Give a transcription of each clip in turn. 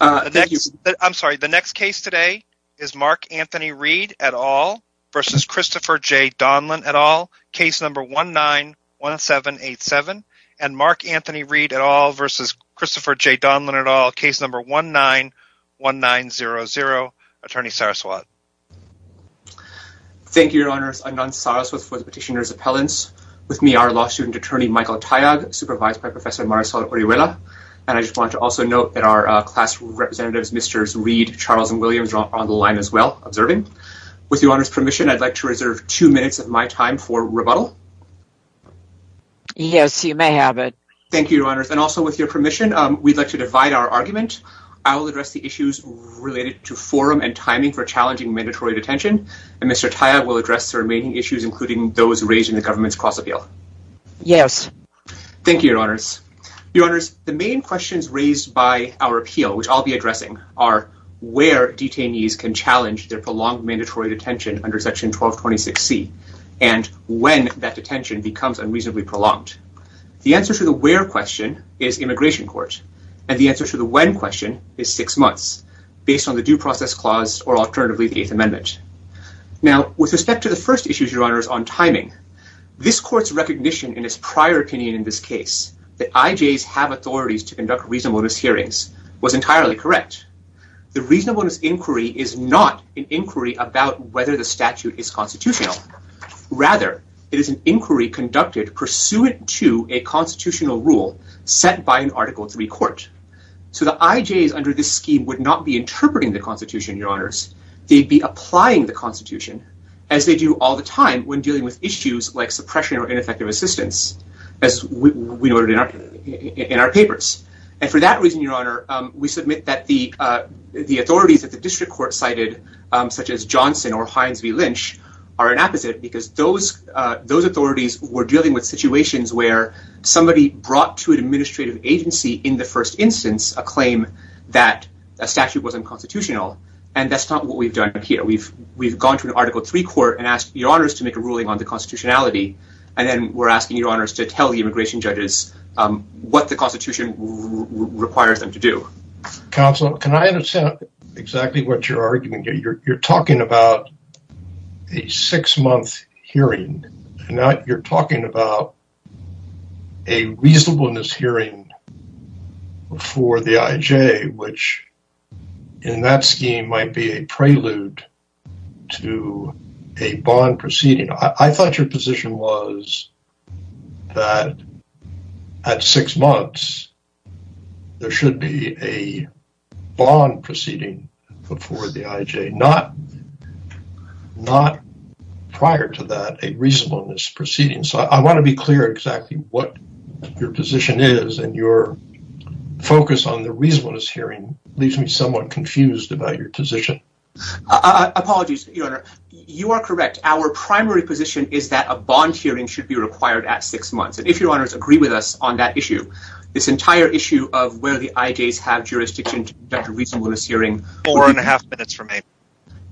I'm sorry, the next case today is Mark Anthony Reed et al. versus Christopher J. Donelan et al., case number 191787. And Mark Anthony Reed et al. versus Christopher J. Donelan et al., case number 191900. Attorney Saraswat. Thank you, Your Honors. I'm Anant Saraswat for the Petitioner's Appellants. With me, our law student attorney, Michael Tayag, supervised by Professor Marisol Oriuela. And I just want to also note that our class representatives, Mr. Reed, Charles, and Williams are on the line as well, observing. With Your Honors' permission, I'd like to reserve two minutes of my time for rebuttal. Yes, you may have it. Thank you, Your Honors. And also with your permission, we'd like to divide our argument. I will address the issues related to forum and timing for challenging mandatory detention, and Mr. Tayag will address the remaining issues, including those raised in the government's cross-appeal. Yes. Thank you, Your Honors. Your Honors, the main questions raised by our appeal, which I'll be addressing, are where detainees can challenge their prolonged mandatory detention under Section 1226C, and when that detention becomes unreasonably prolonged. The answer to the where question is immigration court, and the answer to the when question is six months, based on the due process clause or alternatively the Eighth Amendment. Now, with respect to the first issue, Your Honors, on timing, this court's recognition in its prior opinion in this case, that IJs have authorities to conduct reasonableness hearings, was entirely correct. The reasonableness inquiry is not an inquiry about whether the statute is constitutional. Rather, it is an inquiry conducted pursuant to a constitutional rule set by an Article III court. So the IJs under this scheme would not be interpreting the Constitution, Your Honors. They'd be applying the Constitution, as they do all the time, when dealing with issues like suppression or ineffective assistance, as we noted in our papers. And for that reason, Your Honor, we submit that the authorities that the district court cited, such as Johnson or Hines v. Lynch, are an apposite, because those authorities were dealing with situations where somebody brought to an administrative agency in the first instance a claim that a statute wasn't constitutional, and that's not what we've done here. We've gone to an Article III court and asked Your Honors to make a ruling on the constitutionality, and then we're asking Your Honors to tell the immigration judges what the Constitution requires them to do. Counsel, can I understand exactly what you're arguing? You're talking about a six-month hearing, and now you're talking about a reasonableness hearing before the IJ, which in that scheme might be a prelude to a bond proceeding. I thought your position was that at six months, there should be a bond proceeding before the IJ, not prior to that, a reasonableness proceeding. So I want to be clear exactly what your position is, and your focus on the reasonableness hearing leaves me somewhat confused about your position. Apologies, Your Honor. You are correct. Our primary position is that a bond hearing should be required at six months, and if Your Honors agree with us on that issue, this entire issue of where the IJs have jurisdiction to conduct a reasonableness hearing... Four and a half minutes remain.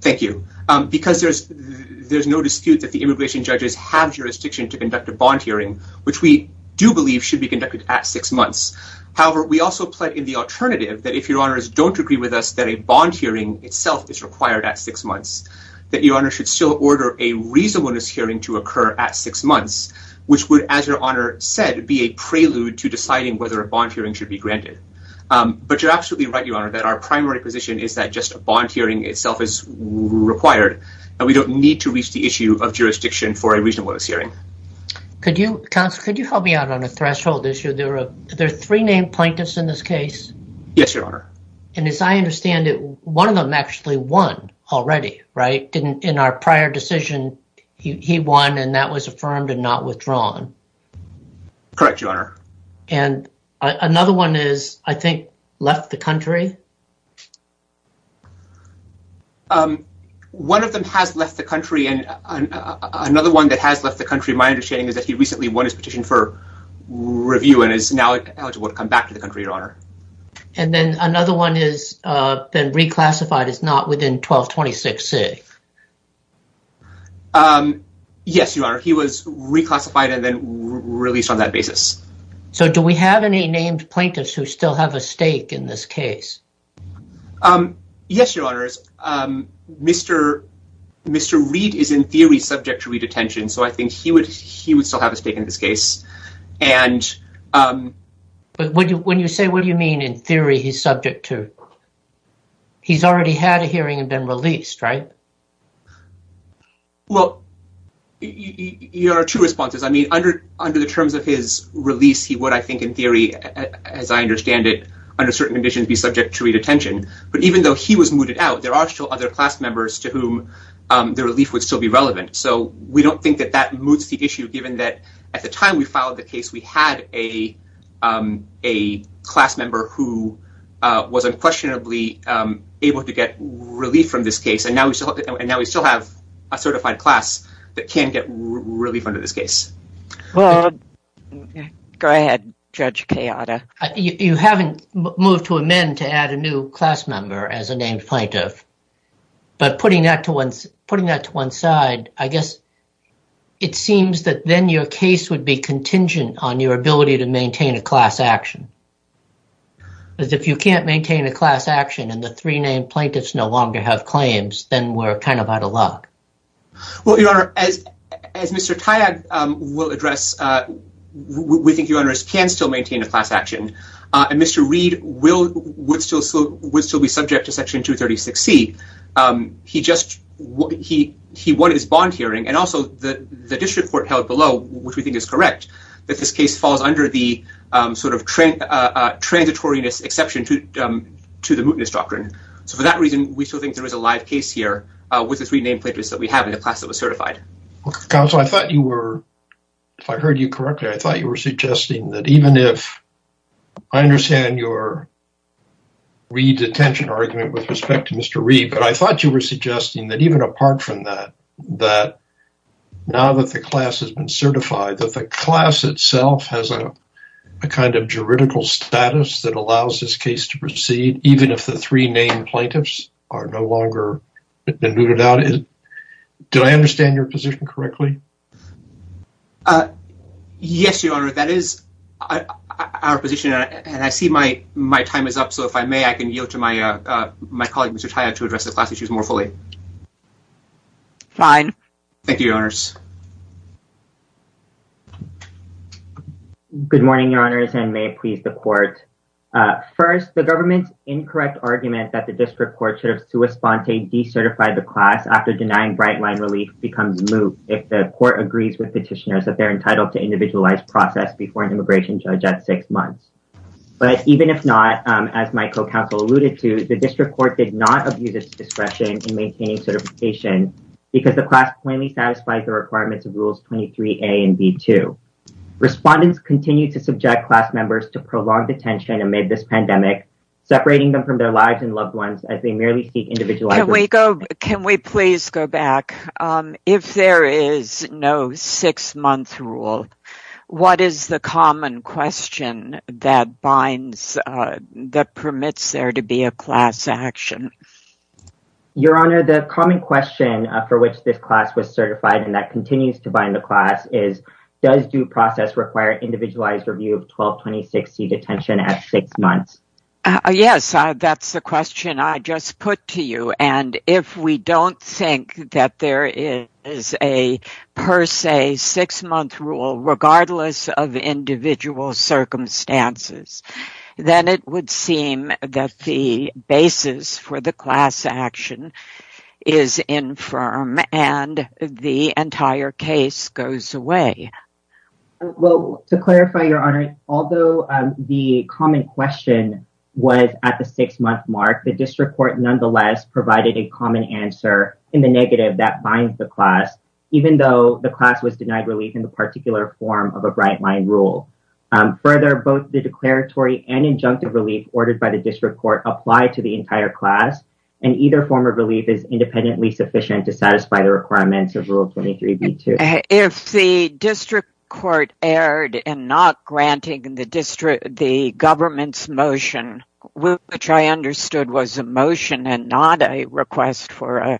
Thank you. Because there's no dispute that the immigration judges have jurisdiction to conduct a bond hearing, which we do believe should be conducted at six months. However, we also pledge in the alternative that if Your Honors don't agree with us that a bond hearing itself is required at six months, that Your Honor should still order a reasonableness hearing to occur at six months, which would, as Your Honor said, be a prelude to deciding whether a bond hearing should be granted. But you're absolutely right, Your Honor, that our primary position is that just a bond hearing itself is required, and we don't need to reach the issue of jurisdiction for a reasonableness hearing. Counsel, could you help me out on a threshold issue? There are three named plaintiffs in this case. Yes, Your Honor. And as I understand it, one of them actually won already, right? In our prior decision, he won, and that was affirmed and not withdrawn. Correct, Your Honor. And another one is, I think, left the country? One of them has left the country, and another one that has left the country, my understanding, is that he recently won his petition for review and is now eligible to come back to the country, Your Honor. And then another one has been reclassified as not within 1226C. Yes, Your Honor. He was reclassified and then released on that basis. So do we have any named plaintiffs who still have a stake in this case? Yes, Your Honor. Mr. Reid is, in theory, subject to redetention, so I think he would still have a stake in this case. But when you say, what do you mean, in theory, he's subject to? He's already had a hearing and been released, right? Well, Your Honor, two responses. I mean, under the terms of his release, he would, I think, in theory, as I understand it, under certain conditions, be subject to redetention. But even though he was mooted out, there are still other class members to whom the relief would still be relevant. So we don't think that that moots the issue, given that at the time we filed the case, we had a class member who was unquestionably able to get relief from this case. And now we still have a certified class that can get relief under this case. Go ahead, Judge Kayada. You haven't moved to amend to add a new class member as a named plaintiff. But putting that to one side, I guess it seems that then your case would be contingent on your ability to maintain a class action. Because if you can't maintain a class action and the three named plaintiffs no longer have claims, then we're kind of out of luck. Well, Your Honor, as Mr. Tyag will address, we think you can still maintain a class action. And Mr. Reid would still be subject to Section 236C. He won his bond hearing. And also the district court held below, which we think is correct, that this case falls under the sort of transitory exception to the mootness doctrine. So for that reason, we still think there is a live case here with the three named plaintiffs that we have in the class that was certified. Counsel, I thought you were, if I heard you correctly, I thought you were suggesting that even if I understand your Reid detention argument with respect to Mr. Reid, but I thought you were suggesting that even apart from that, that now that the class has been certified, that the class itself has a kind of juridical status that the three named plaintiffs are no longer mooted out. Did I understand your position correctly? Yes, Your Honor, that is our position. And I see my time is up. So if I may, I can yield to my colleague, Mr. Tyag, to address the class issues more fully. Good morning, Your Honors, and may it please the court. First, the government's incorrect argument that the district court should have to a sponte decertified the class after denying bright line relief becomes moot if the court agrees with petitioners that they're entitled to individualized process before an immigration judge at six months. But even if not, as my co counsel alluded to, the district court did not abuse its discretion in maintaining certification because the class plainly satisfies the requirements of rules 23a and b2. Respondents continue to subject class members to prolonged detention amid this pandemic, separating them from their lives and loved ones as they merely seek individualized. Can we please go back? If there is no six month rule, what is the common question that binds that permits there to be a class action? Your Honor, the common question for which this class was certified and that continues to bind the class is does due process require individualized review of 122060 detention at six months? Yes, that's the question I just put to you. And if we don't think that there is a per se six month rule, regardless of individual circumstances, then it would seem that the basis for the class action is infirm and the entire case goes away. Well, to clarify, Your Honor, although the common question was at the six month mark, the district court nonetheless provided a common answer in the negative that binds the class, even though the class was denied relief in the particular form of a bright line rule. Further, both the declaratory and injunctive relief ordered by the district court apply to the entire class, and either form of relief is independently sufficient to satisfy the requirements of Rule 23b-2. If the district court erred in not granting the government's motion, which I understood was a motion and not a request for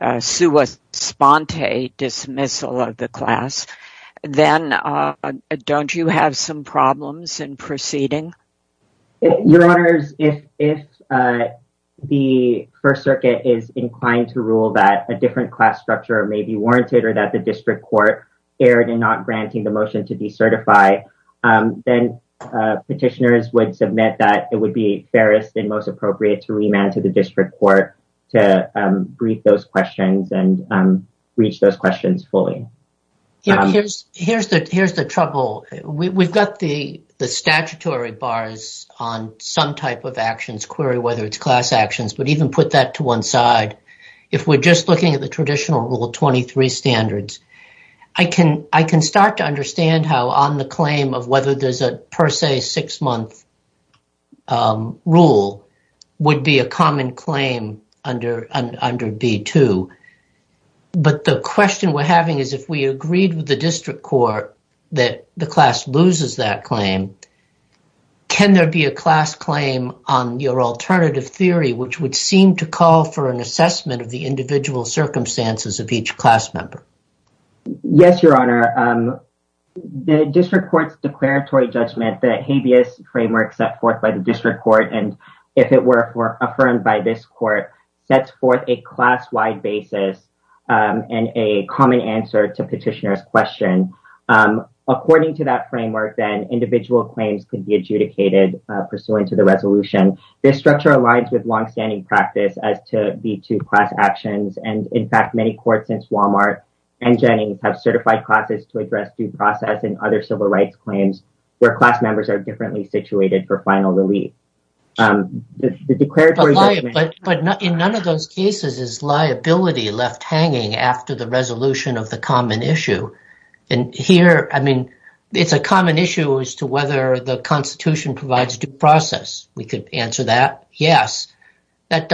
a sua sponte dismissal of the class, then don't you have some problems in proceeding? Your Honors, if the First Circuit is inclined to rule that a different class structure may be warranted or that the district court erred in not granting the motion to decertify, then petitioners would submit that it would be fairest and most appropriate to remand to the district court to brief those questions and reach those questions fully. Your Honors, here's the trouble. We've got the statutory bars on some type of actions, query whether it's class actions, but even put that to one side. If we're just looking at the traditional Rule 23 standards, I can start to understand how on the claim of whether there's a six-month rule would be a common claim under B-2, but the question we're having is if we agreed with the district court that the class loses that claim, can there be a class claim on your alternative theory which would seem to call for an assessment of the individual circumstances of each class member? Yes, Your Honor. The district court's judgment, the habeas framework set forth by the district court, and if it were affirmed by this court, sets forth a class-wide basis and a common answer to petitioner's question. According to that framework, then individual claims can be adjudicated pursuant to the resolution. This structure aligns with long-standing practice as to B-2 class actions, and in fact, many courts since Walmart and Jennings have certified classes to address due process and other civil rights claims where class members are differently situated for final relief. The declaratory judgment... But in none of those cases is liability left hanging after the resolution of the common issue, and here, I mean, it's a common issue as to whether the Constitution provides due process. We could answer that, yes, and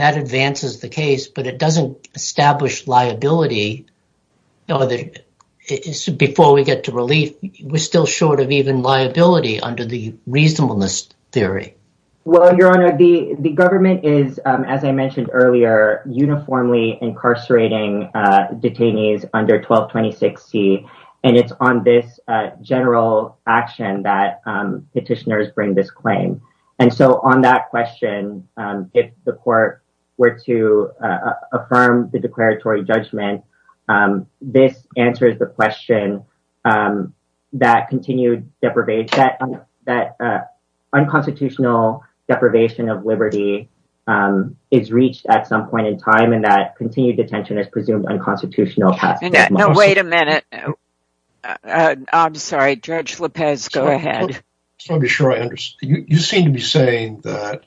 that advances the case, but it doesn't establish liability before we get to relief. We're still short of even liability under the reasonableness theory. Well, Your Honor, the government is, as I mentioned earlier, uniformly incarcerating detainees under 1226C, and it's on this general action that that question, if the court were to affirm the declaratory judgment, this answers the question that continued deprivation, that unconstitutional deprivation of liberty is reached at some point in time, and that continued detention is presumed unconstitutional. Now, wait a minute. I'm sorry. Judge Lopez, go ahead. Let me be sure I understand. You seem to be saying that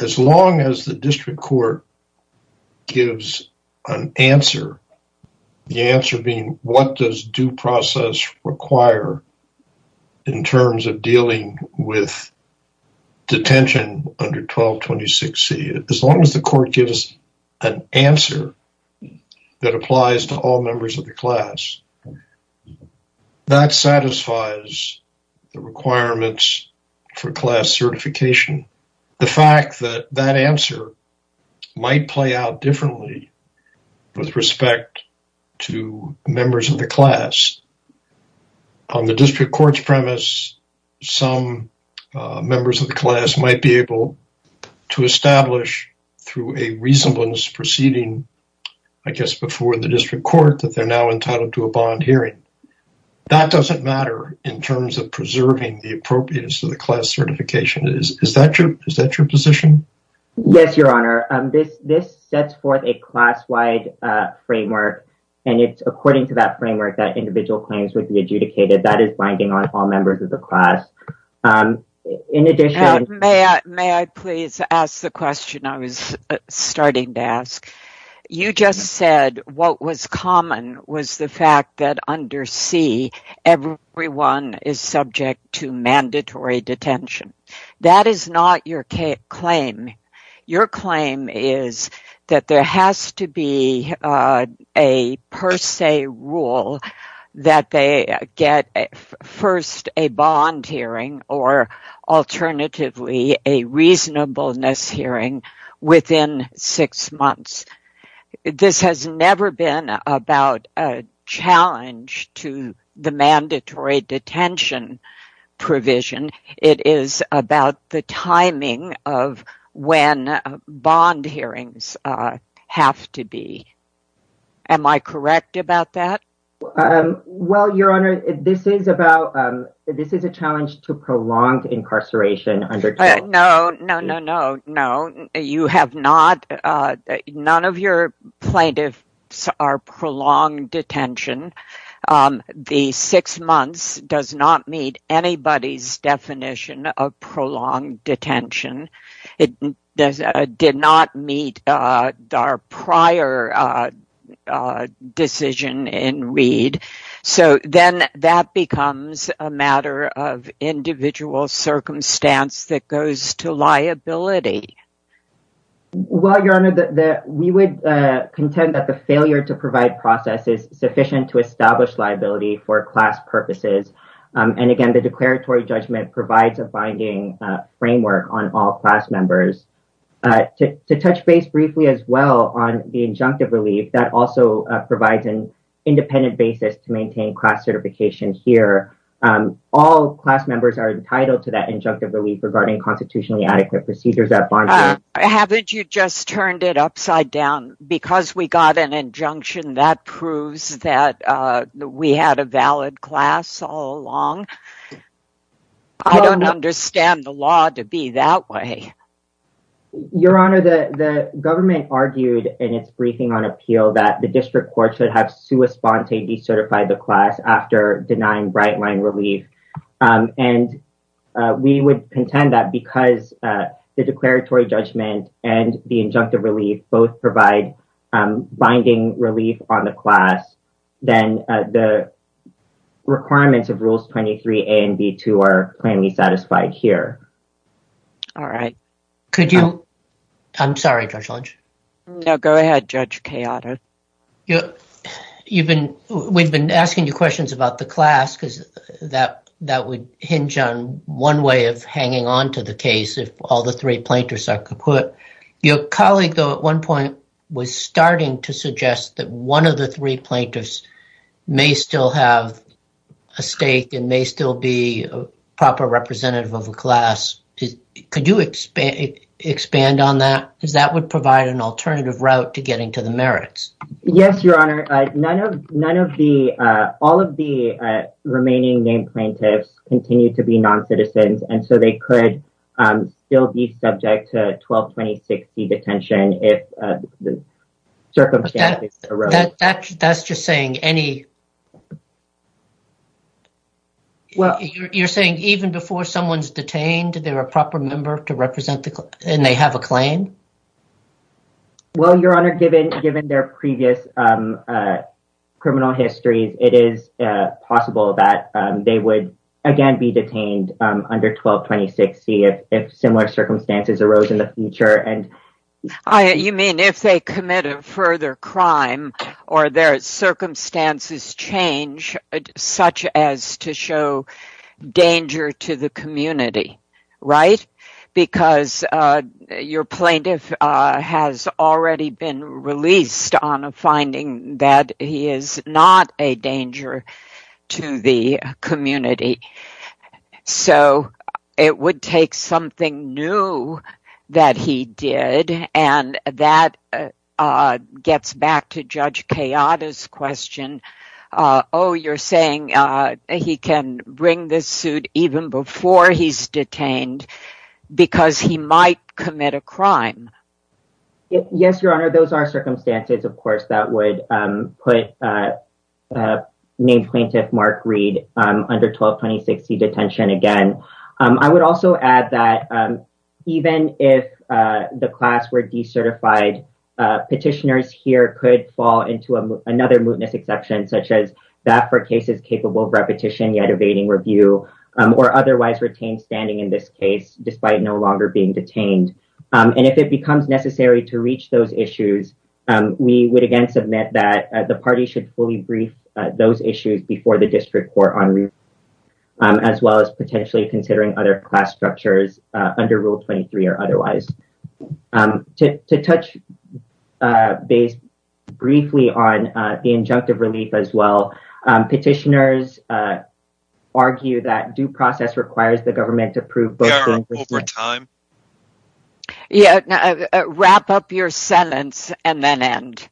as long as the district court gives an answer, the answer being what does due process require in terms of dealing with detention under 1226C, as long as the court gives an answer that applies to all members of the class, that satisfies the requirements for class certification. The fact that that answer might play out differently with respect to members of the class. On the district court's premise, some members of the class might be able to establish through a reasonableness proceeding, I guess, before the district court that they're now entitled to a bond hearing. That doesn't matter in terms of preserving the appropriateness of the class certification. Is that your position? Yes, Your Honor. This sets forth a class-wide framework, and it's according to that framework that individual claims would be adjudicated. That is binding on all members of the class. In addition... May I please ask the question I was starting to ask? You just said what was common was the fact that under C, everyone is subject to mandatory detention. That is not your claim. Your claim is that there has to be a per se rule that they get first a bond hearing or alternatively a reasonableness hearing within six months. This has never been about a challenge to the mandatory detention provision. It is about the timing of when bond hearings have to be. Am I correct about that? Well, Your Honor, this is a challenge to prolonged incarceration. No, no, no, no. You have not. None of your plaintiffs are prolonged detention. The six months does not meet anybody's definition of prolonged detention. It did not meet our prior decision in Reed. So then that becomes a matter of individual circumstance that goes to liability. Well, Your Honor, we would contend that the failure to provide process is sufficient to establish liability for class purposes. And again, the declaratory judgment provides a binding framework on all class members. To touch base briefly as well on the injunctive relief, that also provides an independent basis to maintain class certification here. All class members are entitled to that injunctive relief regarding constitutionally adequate procedures at bond hearings. Haven't you just turned it along? I don't understand the law to be that way. Your Honor, the government argued in its briefing on appeal that the district court should have to respond to be certified the class after denying bright line relief. And we would contend that because the declaratory judgment and the rules 23A and B2 are plainly satisfied here. All right. Could you? I'm sorry, Judge Lynch. No, go ahead, Judge Cayato. We've been asking you questions about the class because that would hinge on one way of hanging on to the case if all the three plaintiffs are kaput. Your colleague, though, at one point was starting to suggest that one of the three plaintiffs may still have a stake and may still be a proper representative of a class. Could you expand on that? Because that would provide an alternative route to getting to the merits. Yes, Your Honor. All of the remaining named plaintiffs continue to be non-citizens and so they could still be subject to 122060 detention if the circumstances arose. That's just saying any. Well, you're saying even before someone's detained, they're a proper member to represent and they have a claim? Well, Your Honor, given their previous criminal histories, it is possible that they would again be detained under 122060 if similar circumstances arose in the future. You mean if they commit a further crime or their circumstances change such as to show danger to the community, right? Because your plaintiff has already been released on a finding that he is not a danger to the community. So it would take something new that he did and that gets back to Judge Kayada's question. Oh, you're saying he can bring this suit even before he's detained because he might commit a crime? Yes, Your Honor. Those are circumstances, of course, that would put named plaintiff Mark Reed under 122060 detention again. I would also add that even if the class were decertified, petitioners here could fall into another mootness exception such as that for cases capable of repetition yet evading review or otherwise retain standing in this case despite no longer being detained. And if it becomes necessary to reach those issues, we would again submit that the party should fully brief those issues before the district court on review as well as potentially considering other class structures under Rule 23 or otherwise. To touch briefly on the injunctive relief as well, petitioners argue that due process requires the and then end.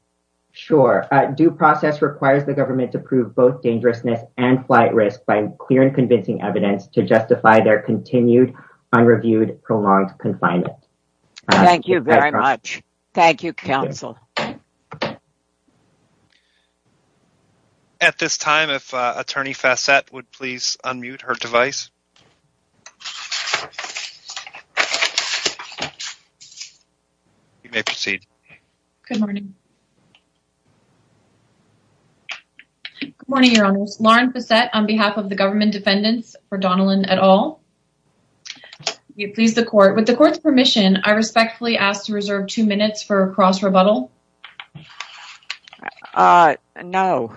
Sure. Due process requires the government to prove both dangerousness and flight risk by clear and convincing evidence to justify their continued unreviewed prolonged confinement. Thank you very much. Thank you, counsel. At this time, if Attorney Fassett would please unmute her device. You may proceed. Good morning. Good morning, Your Honor. Lauren Fassett on behalf of the government defendants for Donnellan et al. We please the court. With the court's permission, I respectfully ask to reserve two minutes for cross-rebuttal. No.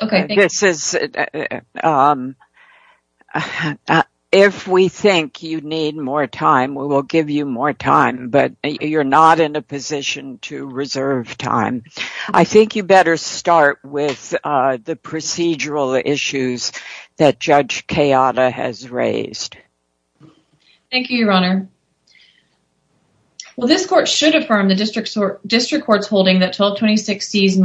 Okay. This is if we think you need more time, we will give you more time, but you're not in a position to reserve time. I think you better start with the procedural issues that Judge Keada has raised. Thank you, Your Honor. Well, this court should affirm the district court's holding that 1226C's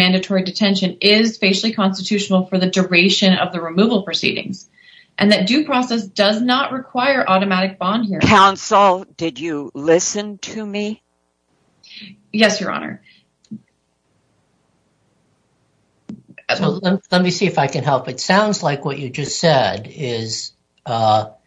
the removal proceedings and that due process does not require automatic bond hearing. Counsel, did you listen to me? Yes, Your Honor. Let me see if I can help. It sounds like what you just said is that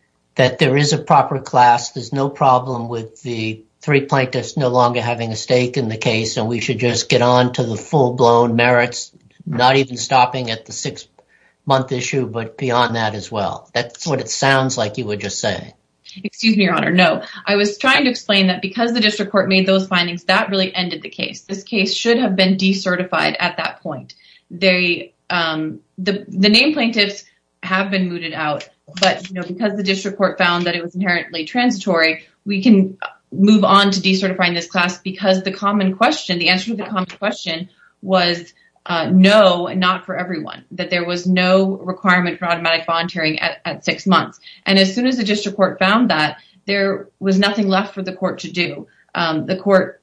there is a proper class. There's no problem with the three plaintiffs no longer having a stake in the case and we should get on to the full-blown merits, not even stopping at the six-month issue, but beyond that as well. That's what it sounds like you were just saying. Excuse me, Your Honor. No. I was trying to explain that because the district court made those findings, that really ended the case. This case should have been decertified at that point. The name plaintiffs have been mooted out, but because the district court found that it was inherently transitory, we can move on to decertifying this because the answer to the common question was no, not for everyone, that there was no requirement for automatic bond hearing at six months. As soon as the district court found that, there was nothing left for the court to do. The court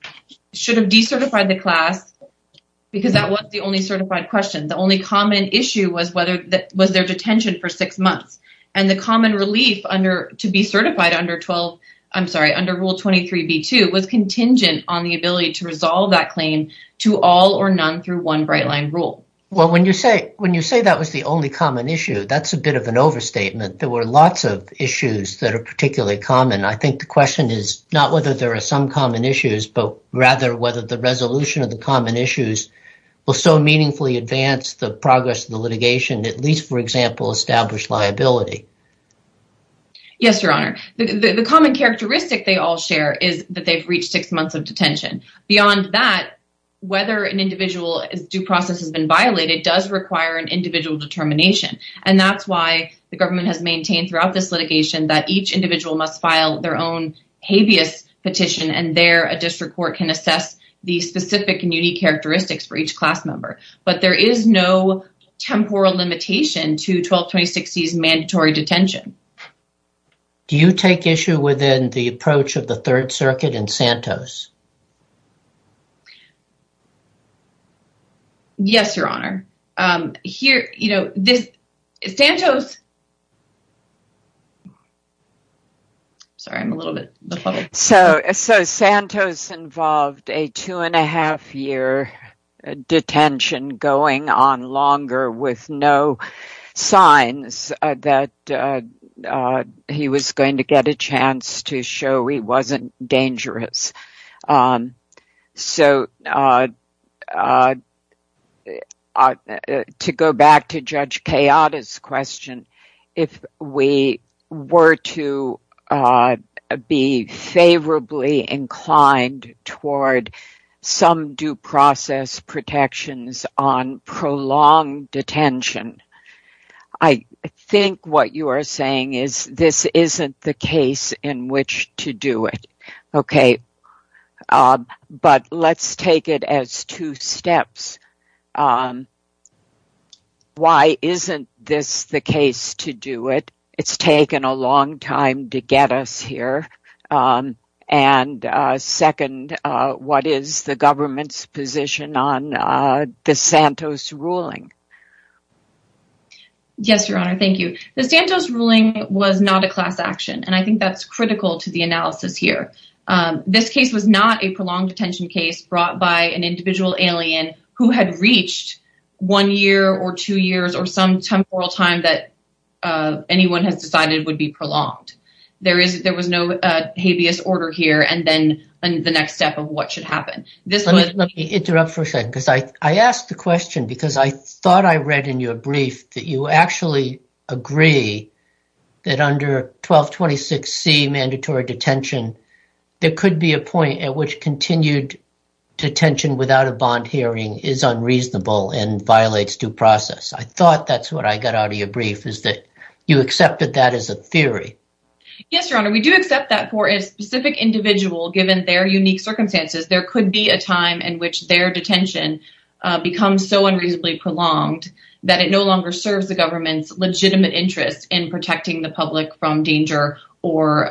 should have decertified the class because that was the only certified question. The only common issue was their detention for six to resolve that claim to all or none through one bright line rule. Well, when you say that was the only common issue, that's a bit of an overstatement. There were lots of issues that are particularly common. I think the question is not whether there are some common issues, but rather whether the resolution of the common issues will so meaningfully advance the progress of the litigation, at least, for example, establish liability. Yes, Your Honor. The common characteristic they all share is that they've reached six months of detention. Beyond that, whether an individual's due process has been violated does require an individual determination. That's why the government has maintained throughout this litigation that each individual must file their own habeas petition, and there a district court can assess the specific and unique characteristics for each class member. There is no temporal limitation to 122060's mandatory detention. Do you take issue within the approach of the government? Yes, Your Honor. Santos involved a two and a half year detention going on longer with no signs that he was going to get a chance to show he wasn't dangerous. To go back to Judge Kayada's question, if we were to be favorably inclined toward some due process protections on prolonged detention, I think what you are saying is this isn't the case in which to do it. Okay, but let's take it as two steps. Why isn't this the case to do it? It's taken a long time to get us here, and second, what is the government's position on the Santos ruling? Yes, Your Honor. Thank you. The Santos ruling was not a class action, and I think that's critical to the analysis here. This case was not a prolonged detention case brought by an individual alien who had reached one year or two years or some temporal time that anyone has decided would be habeas order here and then the next step of what should happen. Let me interrupt for a second because I asked the question because I thought I read in your brief that you actually agree that under 1226C, mandatory detention, there could be a point at which continued detention without a bond hearing is unreasonable and violates due process. I thought that's what got out of your brief is that you accepted that as a theory. Yes, Your Honor. We do accept that for a specific individual given their unique circumstances. There could be a time in which their detention becomes so unreasonably prolonged that it no longer serves the government's legitimate interest in protecting the public from danger or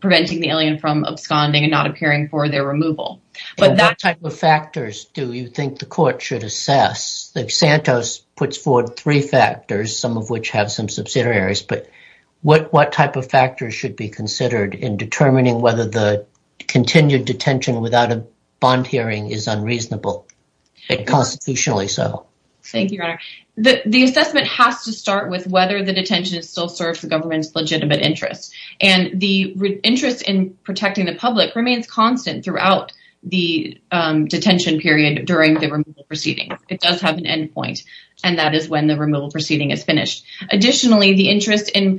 preventing the alien from absconding and not appearing for their removal. What type of factors do you think the court should assess? Santos puts forward three factors, some of which have some subsidiaries, but what type of factors should be considered in determining whether the continued detention without a bond hearing is unreasonable and constitutionally so? Thank you, Your Honor. The assessment has to start with whether the detention still serves the government's legitimate interest and the interest in protecting the public remains constant throughout the detention period during the removal proceedings. It does have an end point and that is when the removal proceeding is finished. Additionally, the interest in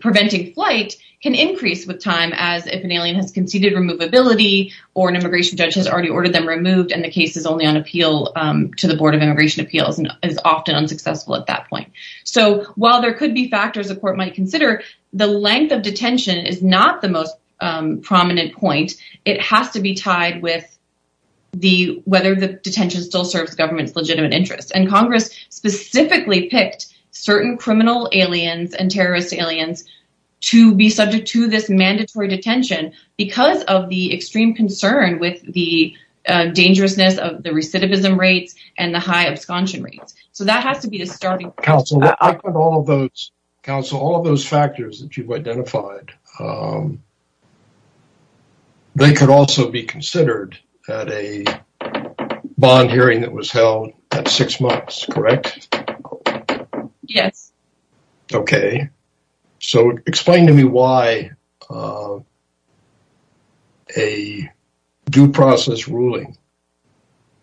preventing flight can increase with time as if an alien has conceded removability or an immigration judge has already ordered them removed and the case is only on appeal to the Board of Immigration Appeals and is often unsuccessful at that point. So, while there could be factors the court might consider, the length of detention is not the most prominent point. It has to be tied with whether the detention still serves the government's legitimate interest and Congress specifically picked certain criminal aliens and terrorist aliens to be subject to this mandatory detention because of the extreme concern with the dangerousness of the recidivism rates and the high absconding rates. So, that has to be a starting point. All of those factors that you've identified, they could also be considered at a bond hearing that was held at six months, correct? Yes. Okay. So, explain to me why a due process ruling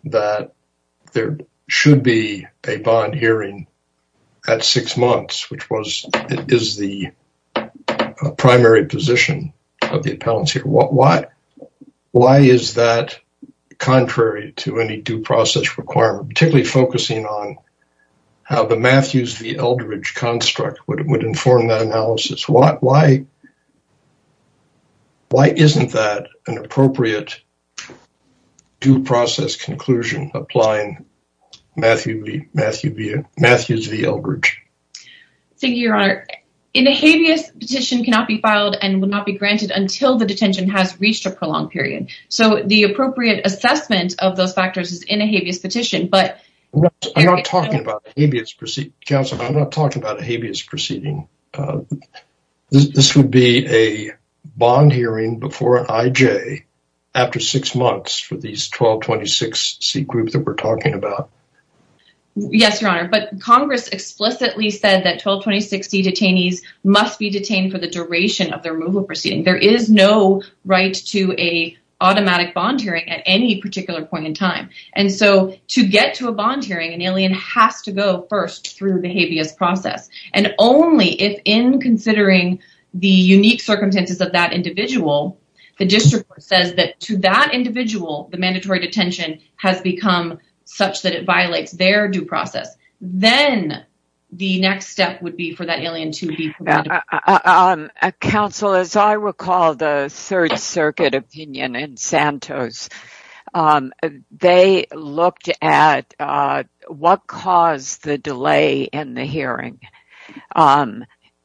that there should be a bond hearing at six months, which is the primary position of the appellants here. Why is that contrary to any due process requirement, particularly focusing on how the Matthews v. Eldridge construct would inform that analysis? Why isn't that an appropriate due process conclusion applying Matthews v. Eldridge? Thank you, Your Honor. In a habeas petition cannot be filed and will not be granted until the detention has reached a prolonged period. So, the appropriate assessment of those factors is in a habeas petition, but- I'm not talking about a habeas proceeding, counsel. I'm not talking about a habeas proceeding. This would be a bond hearing before an IJ after six months for these 1226C groups that we're talking about. Yes, Your Honor, but Congress explicitly said that 1226C detainees must be detained for the duration of their removal proceeding. There is no right to an automatic bond hearing at any habeas process. And only if in considering the unique circumstances of that individual, the district court says that to that individual, the mandatory detention has become such that it violates their due process. Then the next step would be for that alien to be- Counsel, as I Santos, they looked at what caused the delay in the hearing.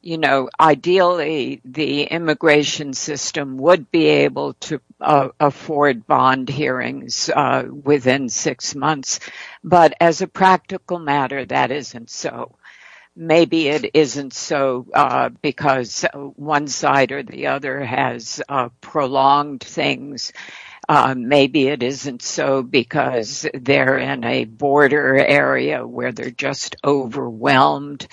Ideally, the immigration system would be able to afford bond hearings within six months, but as a practical matter, that isn't so. Maybe it isn't so because one side or the other has prolonged things. Maybe it isn't so because they're in a border area where they're just overwhelmed.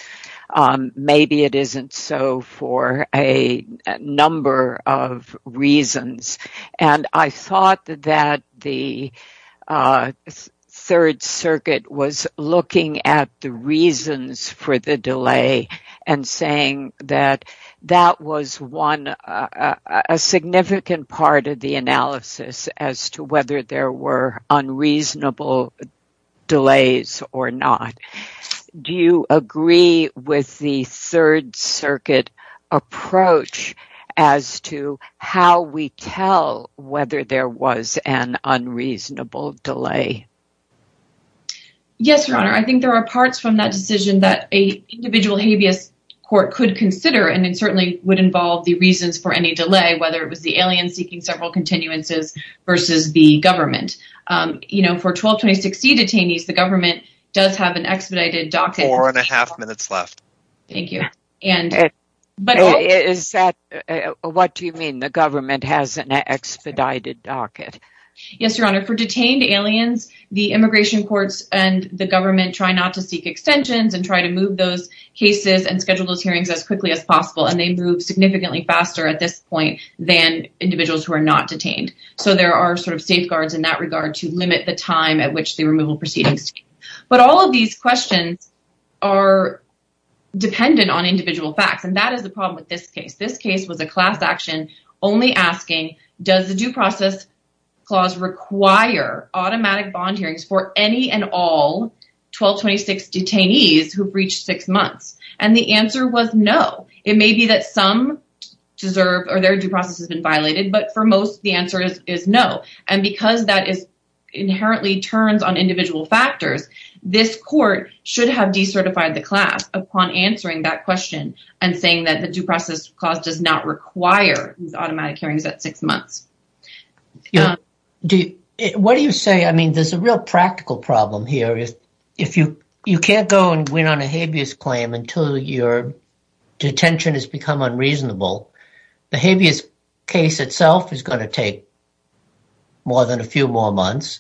Maybe it isn't so for a number of reasons. Maybe it is for the delay and saying that that was one, a significant part of the analysis as to whether there were unreasonable delays or not. Do you agree with the Third Circuit approach as to how we tell whether there was an unreasonable delay? Yes, Your Honor. I think there are parts from that decision that an individual habeas court could consider, and it certainly would involve the reasons for any delay, whether it was the alien seeking several continuances versus the government. For 122060 detainees, the government does have an expedited docket- Four and a half minutes left. Thank you. What do you mean the government has an expedited docket? Yes, Your Honor. For detained aliens, the immigration courts and the government try not to seek extensions and try to move those cases and schedule those hearings as quickly as possible, and they move significantly faster at this point than individuals who are not detained. So there are safeguards in that regard to limit the time at which the removal proceedings take. But all of these questions are dependent on individual facts, and that is the problem with this case. This case was a class action only asking, does the due process clause require automatic bond hearings for any and all 122060 detainees who breached six months? And the answer was no. It may be that some deserve or their due process has been violated, but for most, the answer is no. And because that inherently turns on individual factors, this court should have decertified the class upon answering that question and saying that the due process clause does not require these automatic hearings at six months. What do you say? I mean, there's a real practical problem here. If you can't go and win on a habeas claim until your detention has become unreasonable, the habeas case itself is going to take more than a few more months.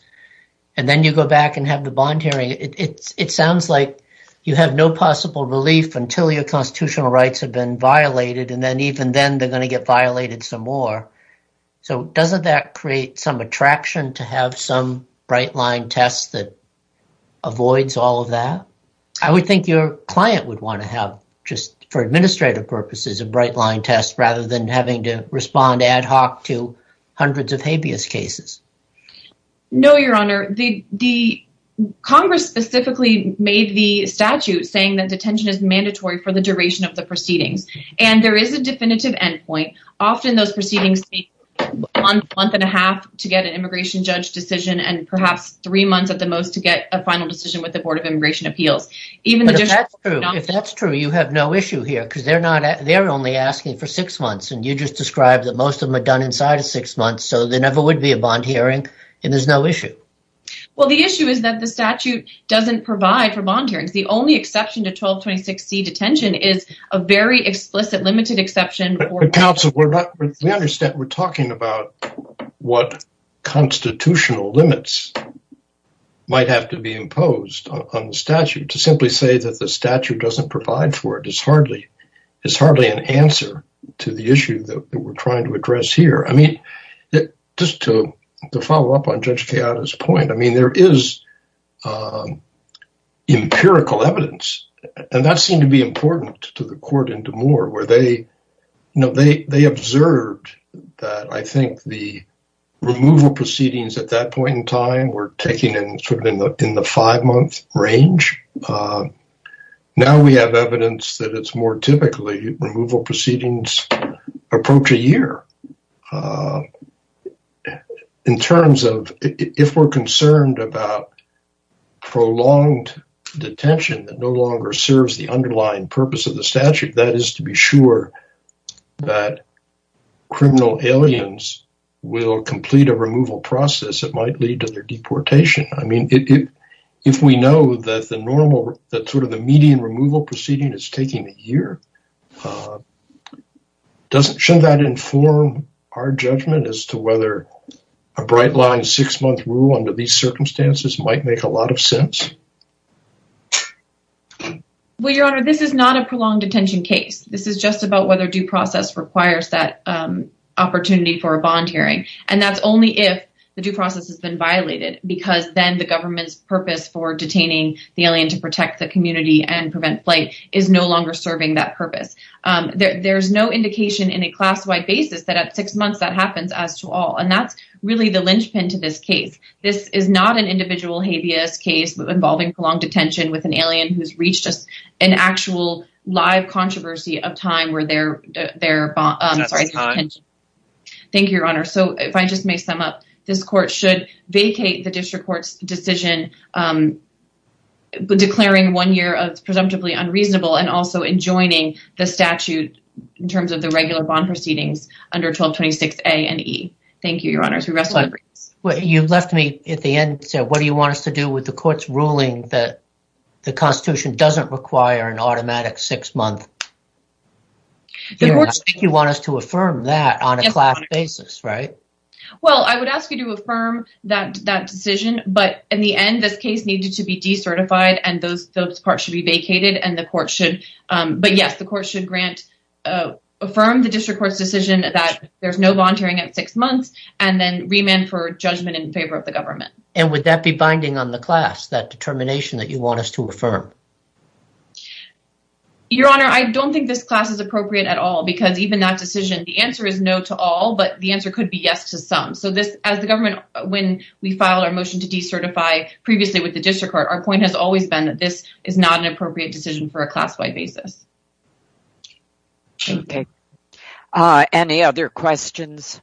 And then you go back and have the bond hearing. It sounds like you have no possible relief until your constitutional rights have been violated. And then even then they're going to get violated some more. So doesn't that create some attraction to have some bright line test that avoids all of that? I would think your client would want to have just for administrative purposes, a bright line test rather than having to respond ad hoc to hundreds of habeas cases. No, Your Honor, the Congress specifically made the statute saying that detention is mandatory for the duration of the proceedings. And there is a definitive endpoint. Often those proceedings take a month and a half to get an immigration judge decision and perhaps three months at the most to get a final decision with the Board of Immigration Appeals. Even if that's true, you have no issue here because they're only asking for six months and you just described that most of them are done inside of six months. So there never would be a bond hearing and there's no issue. Well, the issue is that the statute doesn't provide for bond hearings. The only exception to 1226C detention is a very explicit limited exception. But counsel, we understand we're talking about what constitutional limits might have to be imposed on the statute. To simply say that the statute doesn't provide for it is hardly an answer to the issue that we're trying to address here. I mean, just to follow up on Judge Keada's point, I mean, there is empirical evidence and that seemed to be important to the court and to Moore where they observed that I think the removal proceedings at that point in time were taking in sort of in the five month range. Now we have evidence that it's more typically removal proceedings approach a year. In terms of if we're concerned about prolonged detention that no longer serves the underlying purpose of the statute, that is to be sure that criminal aliens will complete a removal process that might lead to their deportation. I don't know. Shouldn't that inform our judgment as to whether a bright line six month rule under these circumstances might make a lot of sense? Well, Your Honor, this is not a prolonged detention case. This is just about whether due process requires that opportunity for a bond hearing. And that's only if the due process has been violated because then the government's purpose for detaining the alien to protect the community and prevent flight is no longer serving that purpose. There's no indication in a class-wide basis that at six months that happens as to all. And that's really the linchpin to this case. This is not an individual habeas case involving prolonged detention with an alien who's reached an actual live controversy of time where they're... Thank you, Your Honor. So if I just may sum up, this court should vacate the district court's decision declaring one year of presumptively unreasonable and also enjoining the statute in terms of the regular bond proceedings under 1226A and E. Thank you, Your Honor. You've left me at the end to say, what do you want us to do with the court's ruling that the Constitution doesn't require an automatic six-month? You want us to affirm that on a class basis, right? Well, I would ask you to affirm that decision, but in the end, this case needed to be decertified and those parts should be vacated and the court should... But yes, the court should grant... Affirm the district court's decision that there's no volunteering at six months and then remand for judgment in favor of the government. And would that be binding on the class, that determination that you want us to affirm? Your Honor, I don't think this class is appropriate at all because even that decision, the answer is no to all, but the answer could be yes to some. So this, as the government, when we filed our motion to decertify previously with the district court, our point has always been that this is not an appropriate decision for a class-wide basis. Okay. Any other questions?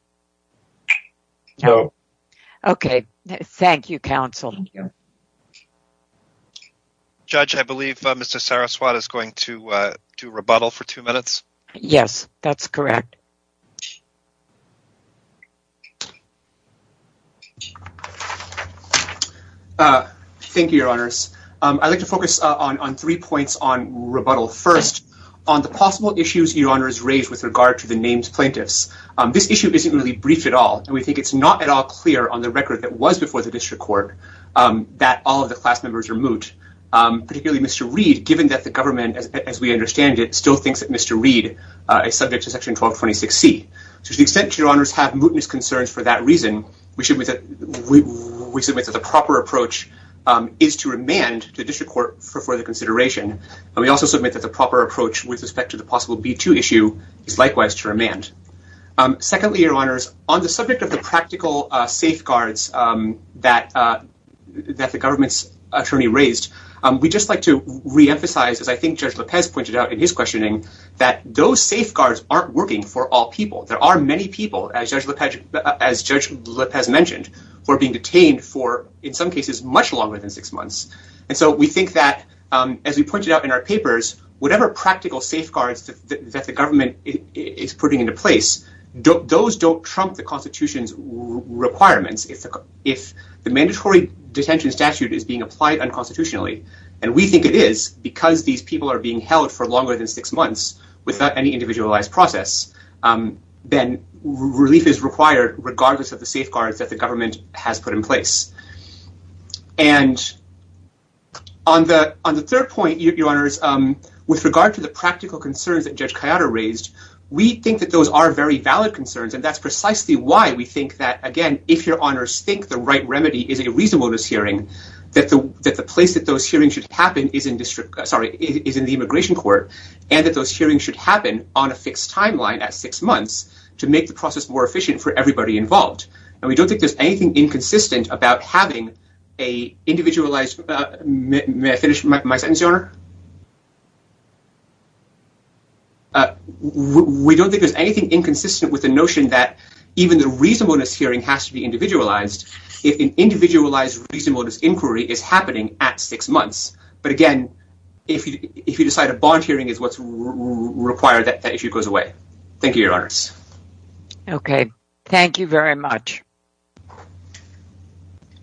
No. Okay. Thank you, counsel. Judge, I believe Mr. Saraswat is going to do rebuttal for two minutes. Yes, that's correct. Thank you, Your Honors. I'd like to focus on three points on rebuttal. First, on the possible issues Your Honors raised with regard to the names plaintiffs. This issue isn't really briefed at all and we think it's not at all clear on the record that was before the district court that all of the class members are moot, particularly Mr. Reed, given that the government, as we understand it, still thinks that Mr. Reed is subject to Section 1226C. To the extent that Your Honors have mootness concerns for that reason, we submit that the proper approach is to remand to the district court for further consideration. We also submit that the proper approach with respect to the possible B2 issue is likewise to remand. Secondly, Your Honors, on the subject of the practical safeguards that the government's we'd just like to reemphasize, as I think Judge Lopez pointed out in his questioning, that those safeguards aren't working for all people. There are many people, as Judge Lopez mentioned, who are being detained for, in some cases, much longer than six months. And so we think that, as we pointed out in our papers, whatever practical safeguards that the government is putting into place, those don't trump the Constitution's requirements. If the mandatory detention statute is being applied unconstitutionally, and we think it is, because these people are being held for longer than six months without any individualized process, then relief is required regardless of the safeguards that the government has put in place. And on the third point, Your Honors, with regard to the practical concerns that Judge Cayatta raised, we think that those are very valid concerns. And that's precisely why we think that, if Your Honors think the right remedy is a reasonableness hearing, that the place that those hearings should happen is in the Immigration Court, and that those hearings should happen on a fixed timeline, at six months, to make the process more efficient for everybody involved. And we don't think there's anything inconsistent with the notion that even the reasonableness hearing has to be individualized, if an individualized reasonableness inquiry is happening at six months. But again, if you decide a bond hearing is what's required, that issue goes away. Thank you, Your Honors. Okay. Thank you very much.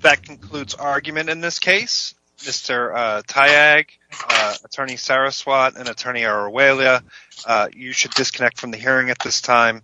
That concludes our argument in this case. Mr. Tayag, Attorney Saraswat, and Attorney Aruela, you should disconnect from the hearing at this time.